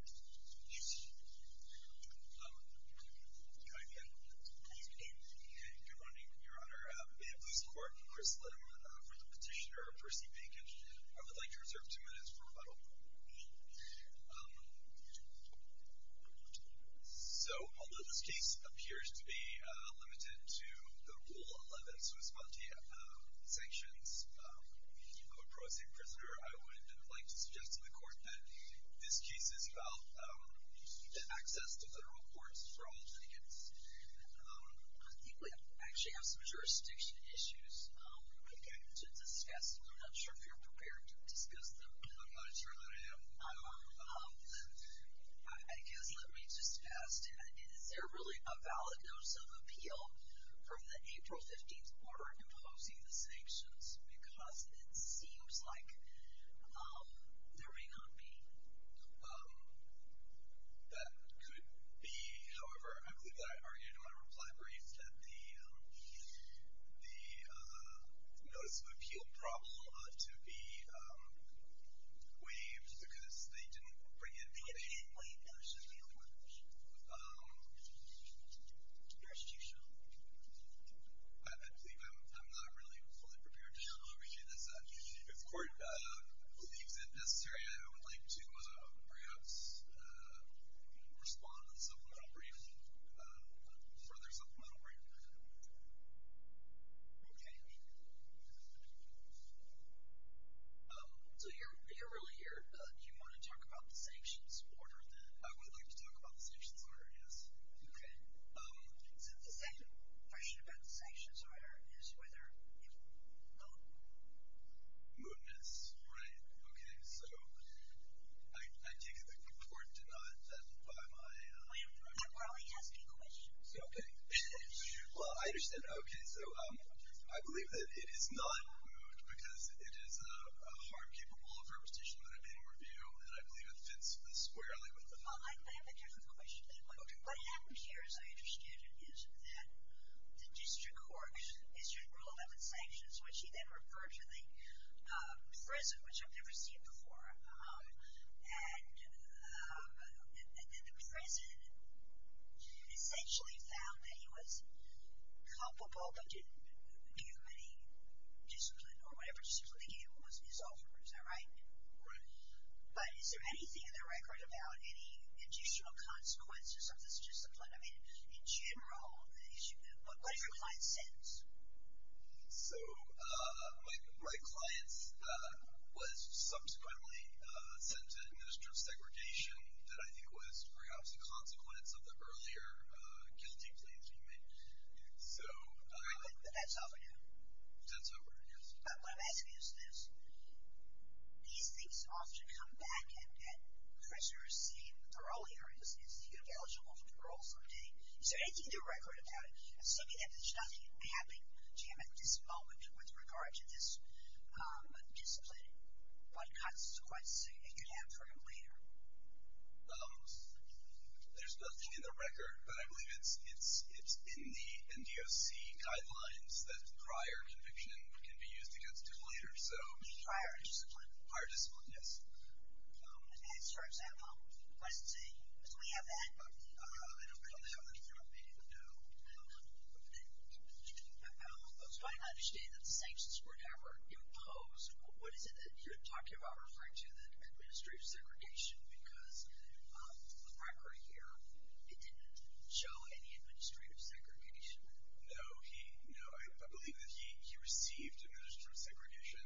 1. Although the case appears to be limited to Rule 11, I would like to suggest to the access to federal courts for all tickets. I think we actually have some jurisdiction issues to discuss. I'm not sure if you're prepared to discuss them. I'm not sure that I am. I guess let me just ask, is there really a valid notice of appeal from the April 15th order imposing the sanctions? Because it seems like there may not be. That could be. However, I believe that I argued in my reply brief that the notice of appeal problem ought to be waived because they didn't bring in the official. It didn't bring in the official, the only one official. I believe I'm not really fully prepared to agree to this. If the court believes it necessary, I would like to perhaps respond with a supplemental briefing, a further supplemental briefing. Okay. So you're really here. Do you want to talk about the sanctions order then? I would like to talk about the sanctions order, yes. Okay. So the second question about the sanctions order is whether it will... Mootness. Right. Okay. So I take it that the court denied that by my... We're only asking a question. Okay. Well, I understand. Okay. So I believe that it is not moot because it is a harm capable of reputation that I made in review, and I believe it fits this squarely with the... Prison, which I've never seen before. And the prison essentially found that he was culpable, but didn't give him any discipline or whatever discipline they gave him was his own. Is that right? Right. But is there anything in the record about any additional consequences of this discipline? I mean, in general, what do your clients sense? So my clients was subsequently sent to administrative segregation that I think was perhaps a consequence of the earlier guilty plea that he made. So... That's over now? That's over, yes. But what I'm asking you is this. These things often come back at prisoners saying, or earlier, is he eligible for parole someday? Is there anything in the record about it? Assuming that there's nothing happening to him at this moment with regard to this discipline, what consequences it could have for him later? There's nothing in the record, but I believe it's in the NDOC guidelines that prior conviction can be used against him later. Prior discipline? Prior discipline, yes. I don't have anything on the NDOC guidelines. I understand that the sanctions were never imposed. What is it that you're talking about referring to that administrative segregation? Because the record here, it didn't show any administrative segregation. No, I believe that he received administrative segregation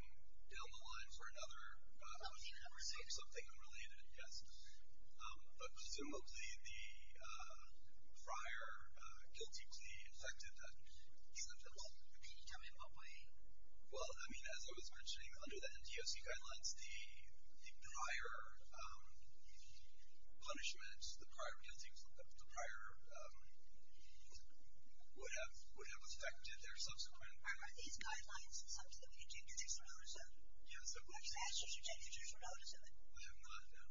down the line for another... Oh, he received another? For something unrelated, yes. But presumably the prior guilty plea affected that. Well, can you tell me in what way? Well, I mean, as I was mentioning, under the NDOC guidelines, the prior punishment, the prior guilty plea, the prior... would have affected their subsequent... Are these guidelines something that we can take additional notice of? Yes, of course. Are there sanctions you can take additional notice of? I have not, no.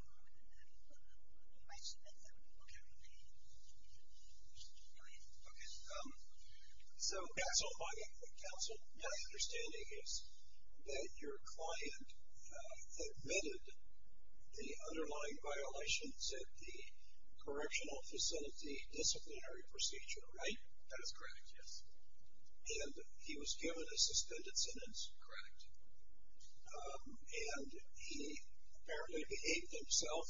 I submit them. Okay. Go ahead. Okay. So, counsel, my understanding is that your client admitted the underlying violations at the correctional facility disciplinary procedure, right? That is correct, yes. And he was given a suspended sentence? Correct. And he apparently behaved himself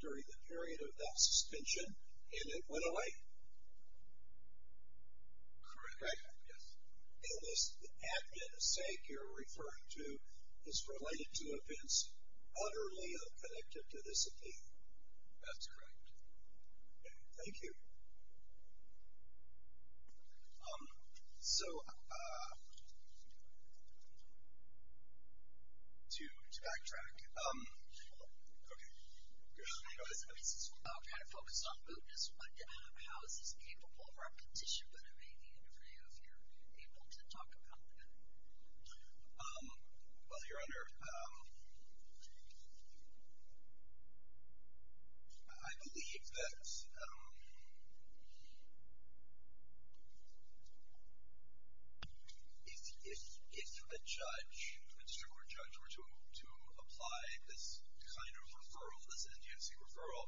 during the period of that suspension, and it went away? Correct, yes. And this admittance sake you're referring to is related to events utterly unconnected to this appeal? That's correct. Okay, thank you. So, to backtrack, okay, go ahead. I mean, this is all kind of focused on mootness, but how is this capable of repetition? But maybe if I have your people to talk about that. Well, Your Honor, I believe that if a judge, a district court judge were to apply this kind of referral, this NGFC referral,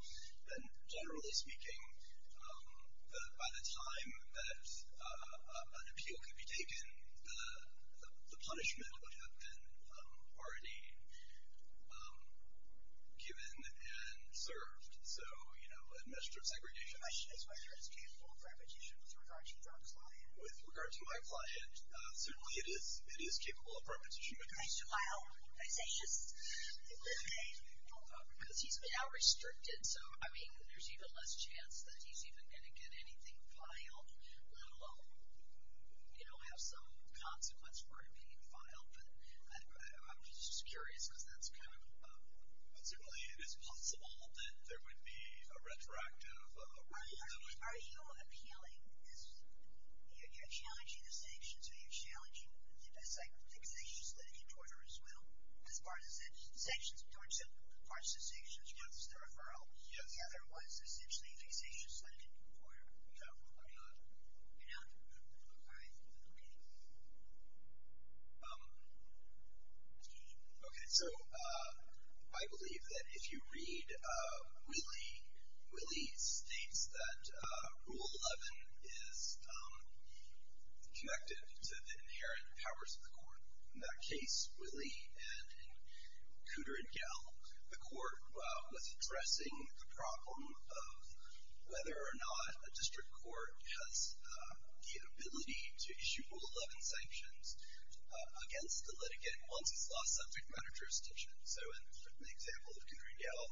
then generally speaking, by the time that an appeal could be taken, the punishment would have been already given and served. So, you know, administrative segregation. My question is whether it's capable of repetition with regard to your client. With regard to my client, certainly it is capable of repetition. Can I say yes? Because he's now restricted. So, I mean, there's even less chance that he's even going to get anything filed, let alone, you know, have some consequence for it being filed. But I'm just curious because that's kind of. Certainly it is possible that there would be a retroactive. Are you appealing this? You're challenging the sanctions? Are you challenging the fixations litigant order as well? As far as the sanctions? As far as the sanctions versus the referral? Yes. Yeah, there was essentially a fixations litigant order. You're not? All right. Okay. Okay. So, I believe that if you read Willie, Willie states that Rule 11 is connected to the inherent powers of the court. In that case, Willie and Kudrin-Gell, the court was addressing the problem of whether or not a district court has the ability to issue Rule 11 sanctions against the litigant once it's lost subject matter jurisdiction. So, in the example of Kudrin-Gell,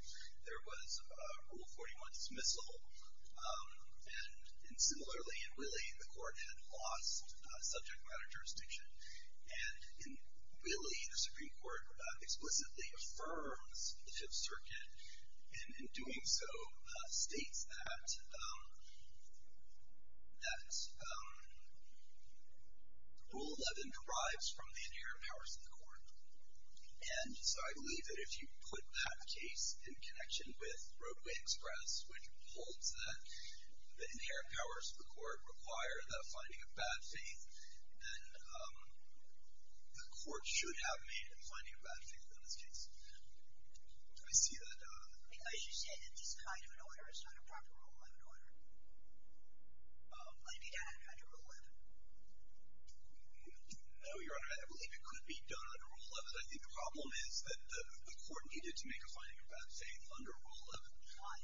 there was a Rule 41 dismissal. And similarly, in Willie, the court had lost subject matter jurisdiction. And in Willie, the Supreme Court explicitly affirms the Fifth Circuit, and in doing so, states that Rule 11 derives from the inherent powers of the court. And so, I believe that if you put that case in connection with Roadway Express, which holds that the inherent powers of the court require the finding of bad faith, then the court should have made the finding of bad faith in this case. Do I see that? I mean, as you said, in this kind of an order, it's not a proper Rule 11 order. I mean, that had to be Rule 11. No, Your Honor. I believe it could be done under Rule 11. I think the problem is that the court needed to make a finding of bad faith under Rule 11. Why?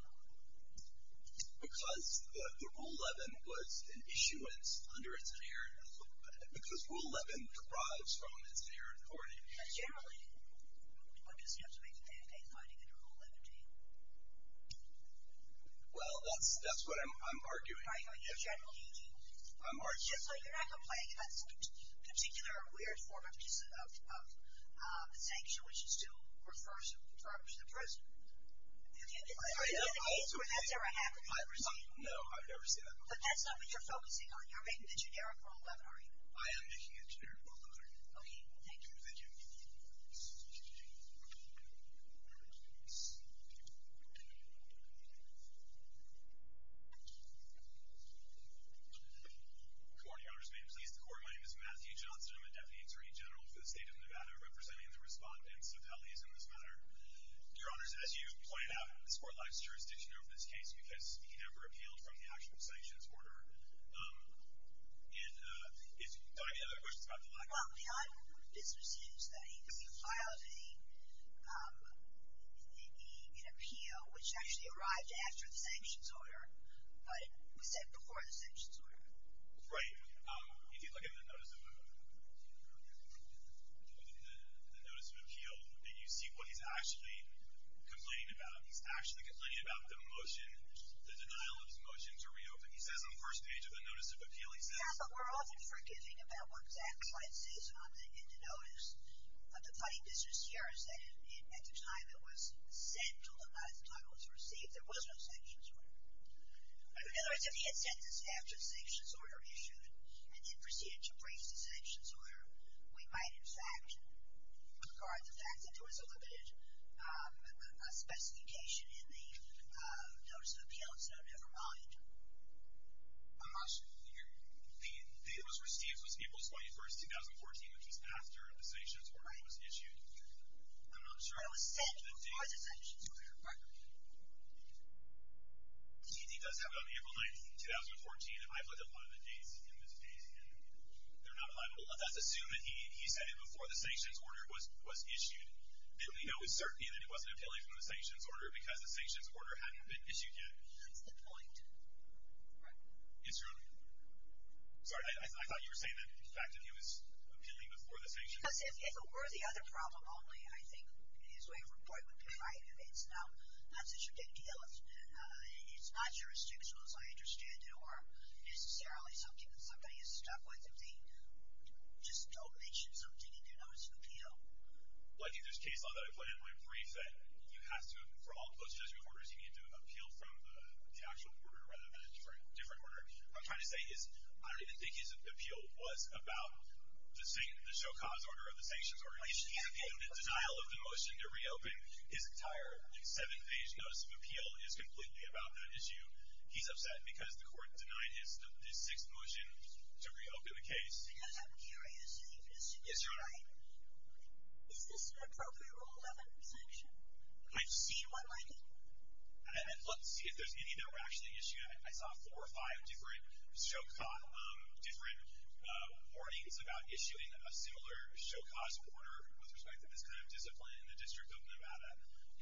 Because the Rule 11 was an issuance under its inherent authority. Because Rule 11 derives from its inherent authority. But generally, one just has to make a bad faith finding under Rule 11, do you? Well, that's what I'm arguing. I'm arguing. Just so you're not complaining, that's a particular weird form of sanction, which is to refer someone to the prison. Is there a case where that's ever happened? No, I've never seen that before. But that's not what you're focusing on. You're making a generic Rule 11, are you? I am making a generic Rule 11. Okay, thank you. Thank you. Good morning, Your Honors. May it please the Court. My name is Matthew Johnson. I'm a Deputy Attorney General for the State of Nevada, representing the respondents, appellees in this matter. Your Honors, as you point out, this Court lacks jurisdiction over this case because he never appealed from the actual sanctions order. And do I have any other questions about the law? Well, the odd business is that he filed an appeal, which actually arrived after the sanctions order. But it was sent before the sanctions order. Right. If you look at the Notice of Appeal, you see what he's actually complaining about. He's actually complaining about the motion, the denial of his motion to reopen. He says on the first page of the Notice of Appeal, he says— Yeah, but we're often forgiving about what Zach writes in the Notice. But the funny business here is that at the time it was sent, although not at the time it was received, there was no sanctions order. In other words, if he had sent this after the sanctions order issued and then proceeded to brief the sanctions order, we might, in fact, regard the fact that there was a limited specification in the Notice of Appeal as though never mind. I'm not sure. The date it was received was April 21, 2014, which was after the sanctions order was issued. Right. I'm not sure. But it was sent before the sanctions order. Right. He does have it on April 19, 2014. I've looked at a lot of the dates in this case, and they're not reliable. Let's assume that he sent it before the sanctions order was issued. Then we know with certainty that he wasn't appealing from the sanctions order because the sanctions order hadn't been issued yet. That's the point. Right. Yes, certainly. Sorry, I thought you were saying that the fact that he was appealing before the sanctions order was issued. Because if it were the other problem only, I think his way of reporting would be fine. It's not such a big deal. It's not jurisdictional, as I understand it, or necessarily something that somebody has stuck with, if they just don't mention something in their Notice of Appeal. Well, I think there's case law that I put in my brief that you have to, for all post-sanctions orders, you need to appeal from the actual order rather than a different order. What I'm trying to say is I don't even think his appeal was about the Shokah's order or the sanctions order. He's appealing the denial of the motion to reopen. His entire seventh-page Notice of Appeal is completely about that issue. He's upset because the court denied his sixth motion to reopen the case. I'm curious. You think this should be fine? Yes, Your Honor. Is this an appropriate Rule 11 sanction? I've seen one like it. Let's see if there's any that were actually issued. I saw four or five different Shokah warnings about issuing a similar Shokah's order with respect to this kind of discipline in the District of Nevada.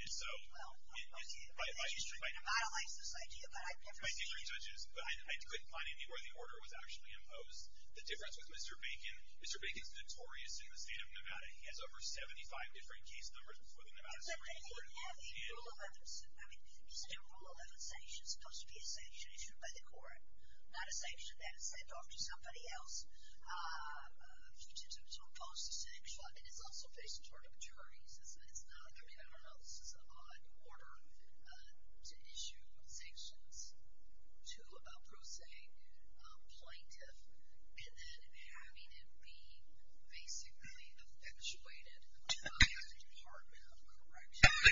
Well, I don't like this idea, but I've never seen it. But I couldn't find any where the order was actually imposed. The difference with Mr. Bacon, Mr. Bacon's notorious in the state of Nevada. He has over 75 different case numbers before the Nevada Supreme Court. But they didn't have a Rule 11. I mean, isn't a Rule 11 sanction supposed to be a sanction issued by the court, not a sanction that is sent off to somebody else to impose the sanction? And it's also based in terms of juries. I mean, I don't know. This is an odd order to issue sanctions to a pro se plaintiff and then having it be basically effectuated by the Department of Corrections.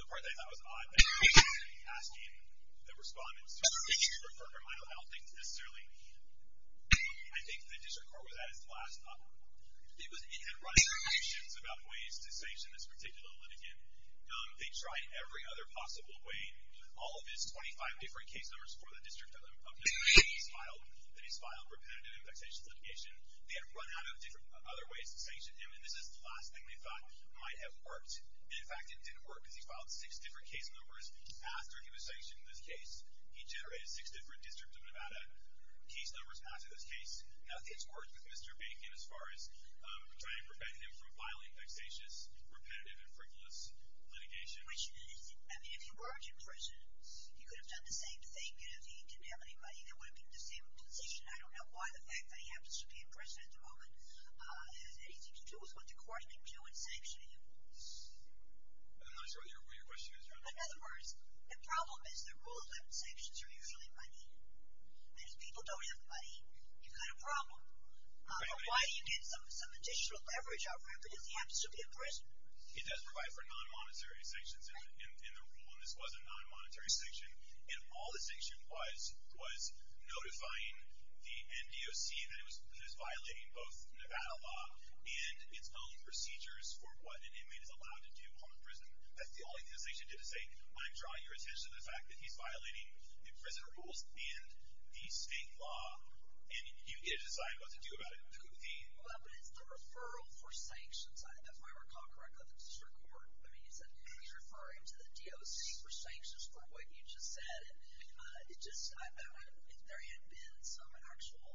The part that I thought was odd, that you were actually asking the respondents to refer to it, I don't think necessarily. I think the District Court was at its last thought. It had run through many shifts about ways to sanction this particular litigant. They tried every other possible way. All of his 25 different case numbers for the District of Nevada that he's filed repetitive and vexatious litigation, they had run out of different other ways to sanction him. And this is the last thing they thought might have worked. And, in fact, it didn't work because he filed six different case numbers after he was sanctioned in this case. He generated six different District of Nevada case numbers after this case. Nothing's worked with Mr. Bacon as far as trying to prevent him from filing vexatious, repetitive, and frivolous litigation. I mean, if he weren't in prison, he could have done the same thing. If he didn't have any money, he wouldn't be in the same position. I don't know why the fact that he happens to be in prison at the moment has anything to do with what the court can do in sanctioning him. I'm not sure what your question is. In other words, the problem is that rule of limit sanctions are usually money. And if people don't have the money, you've got a problem. But why do you get some additional leverage out of him because he happens to be in prison? He does provide for non-monetary sanctions in the rule, and this was a non-monetary sanction. And all the sanction was was notifying the NDOC that it was violating both Nevada law and its own procedures for what an inmate is allowed to do while in prison. That's the only thing the sanction did was say, I'm drawing your attention to the fact that he's violating the prison rules and the state law, and you get to decide what to do about it. But it's the referral for sanctions. If I recall correctly, the district court, he's referring to the DOC for sanctions for what you just said. And if there had been some actual,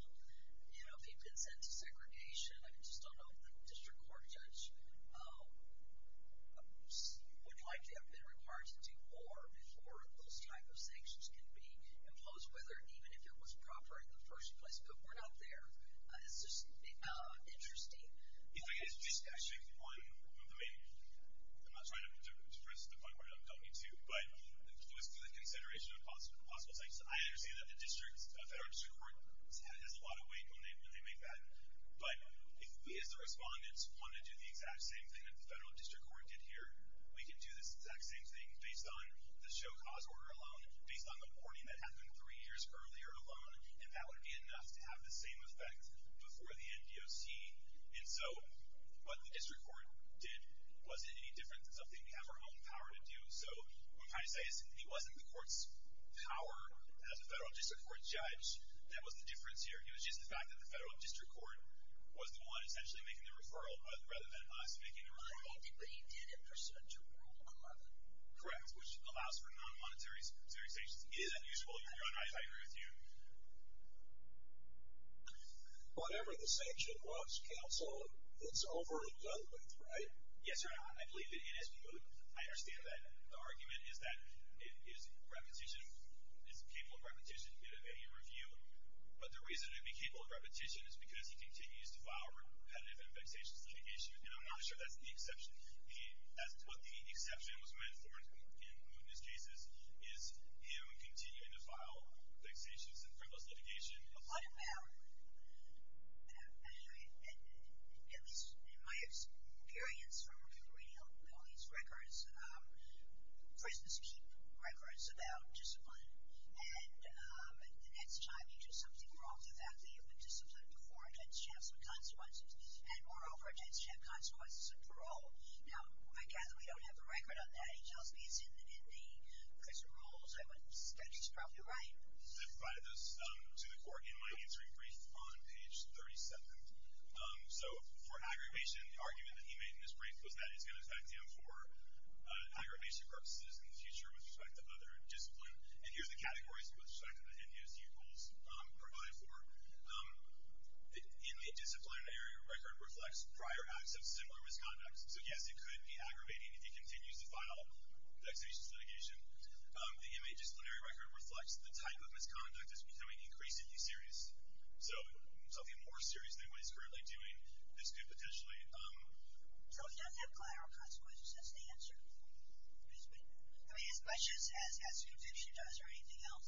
you know, if he'd been sent to segregation, I just don't know if the district court judge would likely have been required to do more before those type of sanctions can be imposed, whether even if it was proper in the first place, but we're not there. It's just interesting. If I could just actually one of the main, I'm not trying to depress the point where I don't need to, but it was for the consideration of possible sanctions. I understand that the district, the federal district court has a lot of weight when they make that. But if we as the respondents want to do the exact same thing that the federal district court did here, we can do this exact same thing based on the show cause order alone, based on the warning that happened three years earlier alone, and that would be enough to have the same effect before the NDOC. And so what the district court did, was it any different than something we have our own power to do? So I'm trying to say, it wasn't the court's power as a federal district court judge, that was the difference here. It was just the fact that the federal district court was the one essentially making the referral rather than us making the referral. But he did in pursuit to rule the court. Correct. Which allows for non-monetary sanctions. It is unusual. I agree with you. Whatever the sanction was counsel, it's over and done with, right? Yes, sir. I believe that it is. I understand that the argument is that it is repetition. It's capable of repetition in any review. But the reason it'd be capable of repetition is because he continues to file repetitive and vexatious litigation. And I'm not sure that's the exception. He has what the exception was meant for. Is him continuing to file vexatious and frivolous litigation? What about, at least in my experience from reading all these records, prisons keep records about discipline. And the next time you do something wrong, the fact that you've been disciplined before, it tends to have some consequences. And moreover, it tends to have consequences of parole. Now, I gather we don't have a record on that. In the prison rules, that's probably right. I provided those to the court in my answering brief on page 37. So for aggravation, the argument that he made in his brief was that it's going to affect him for aggravation purposes in the future with respect to other discipline. And here's the categories with respect to the NDOC rules provide for. In the disciplinary record reflects prior acts of similar misconduct. So yes, it could be aggravating if he continues to file vexatious litigation. The MA disciplinary record reflects the type of misconduct that's becoming increasingly serious. So something more serious than what he's currently doing, this could potentially... So he doesn't have collateral consequences. That's the answer. I mean, as much as conviction does or anything else.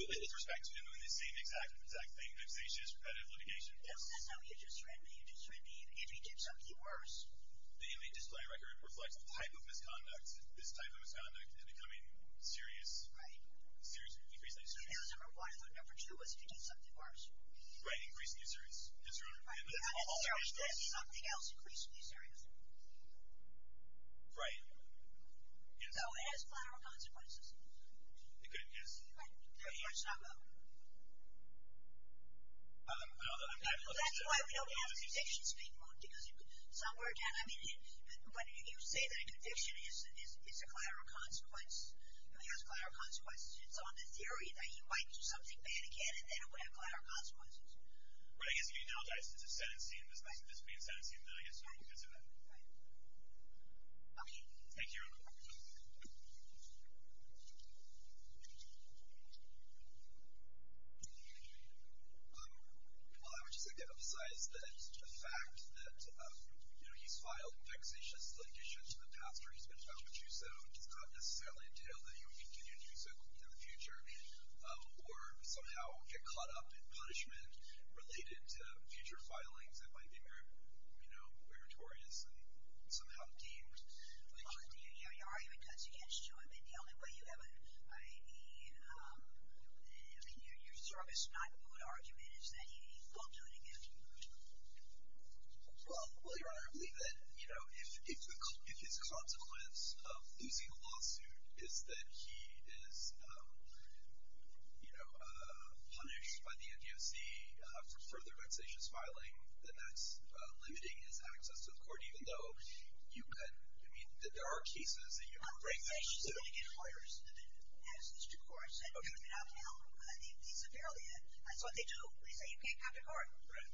With respect to him doing the same exact thing, vexatious, repetitive litigation. If he did something worse. The MA disciplinary record reflects the type of misconduct. This type of misconduct is becoming serious. Right. Increasingly serious. That was number one. I thought number two was if he did something worse. Right. Increasingly serious. Something else increasingly serious. Right. So it has collateral consequences. It could, yes. That's why we don't have convictions being moved. Because somewhere down, I mean, when you say that a conviction is a collateral consequence, it has collateral consequences, it's on the theory that he might do something bad again and then it would have collateral consequences. Right, I guess if you analogize it to sentencing, this being sentencing, then I guess you could say that. Right. Okay. Thank you. Well, I would just like to emphasize that the fact that, you know, he's filed vexatious litigation to the pastor, he's been found to do so, does not necessarily entail that he would continue to do so in the future or somehow get caught up in punishment related to future filings that might be, you know, meritorious and somehow deemed. Your argument cuts against you. I mean, the only way you have a, I mean, your service not good argument is that he won't do it again. Well, your Honor, I believe that, you know, if his consequence of losing a lawsuit is that he is, you know, punished by the NDOC for further vexatious filing, then that's limiting his access to the court, even though you could, I mean, there are cases that you could bring that. He's going to get lawyers that have access to court. That's what they do. They say you can't come to court. Right.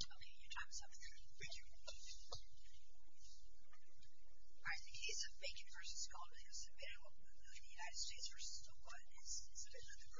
Okay. Can you talk us through that? Thank you. All right. The case of Bacon v. Goldman, because the United States versus the one in Greece, the case of Bacon v.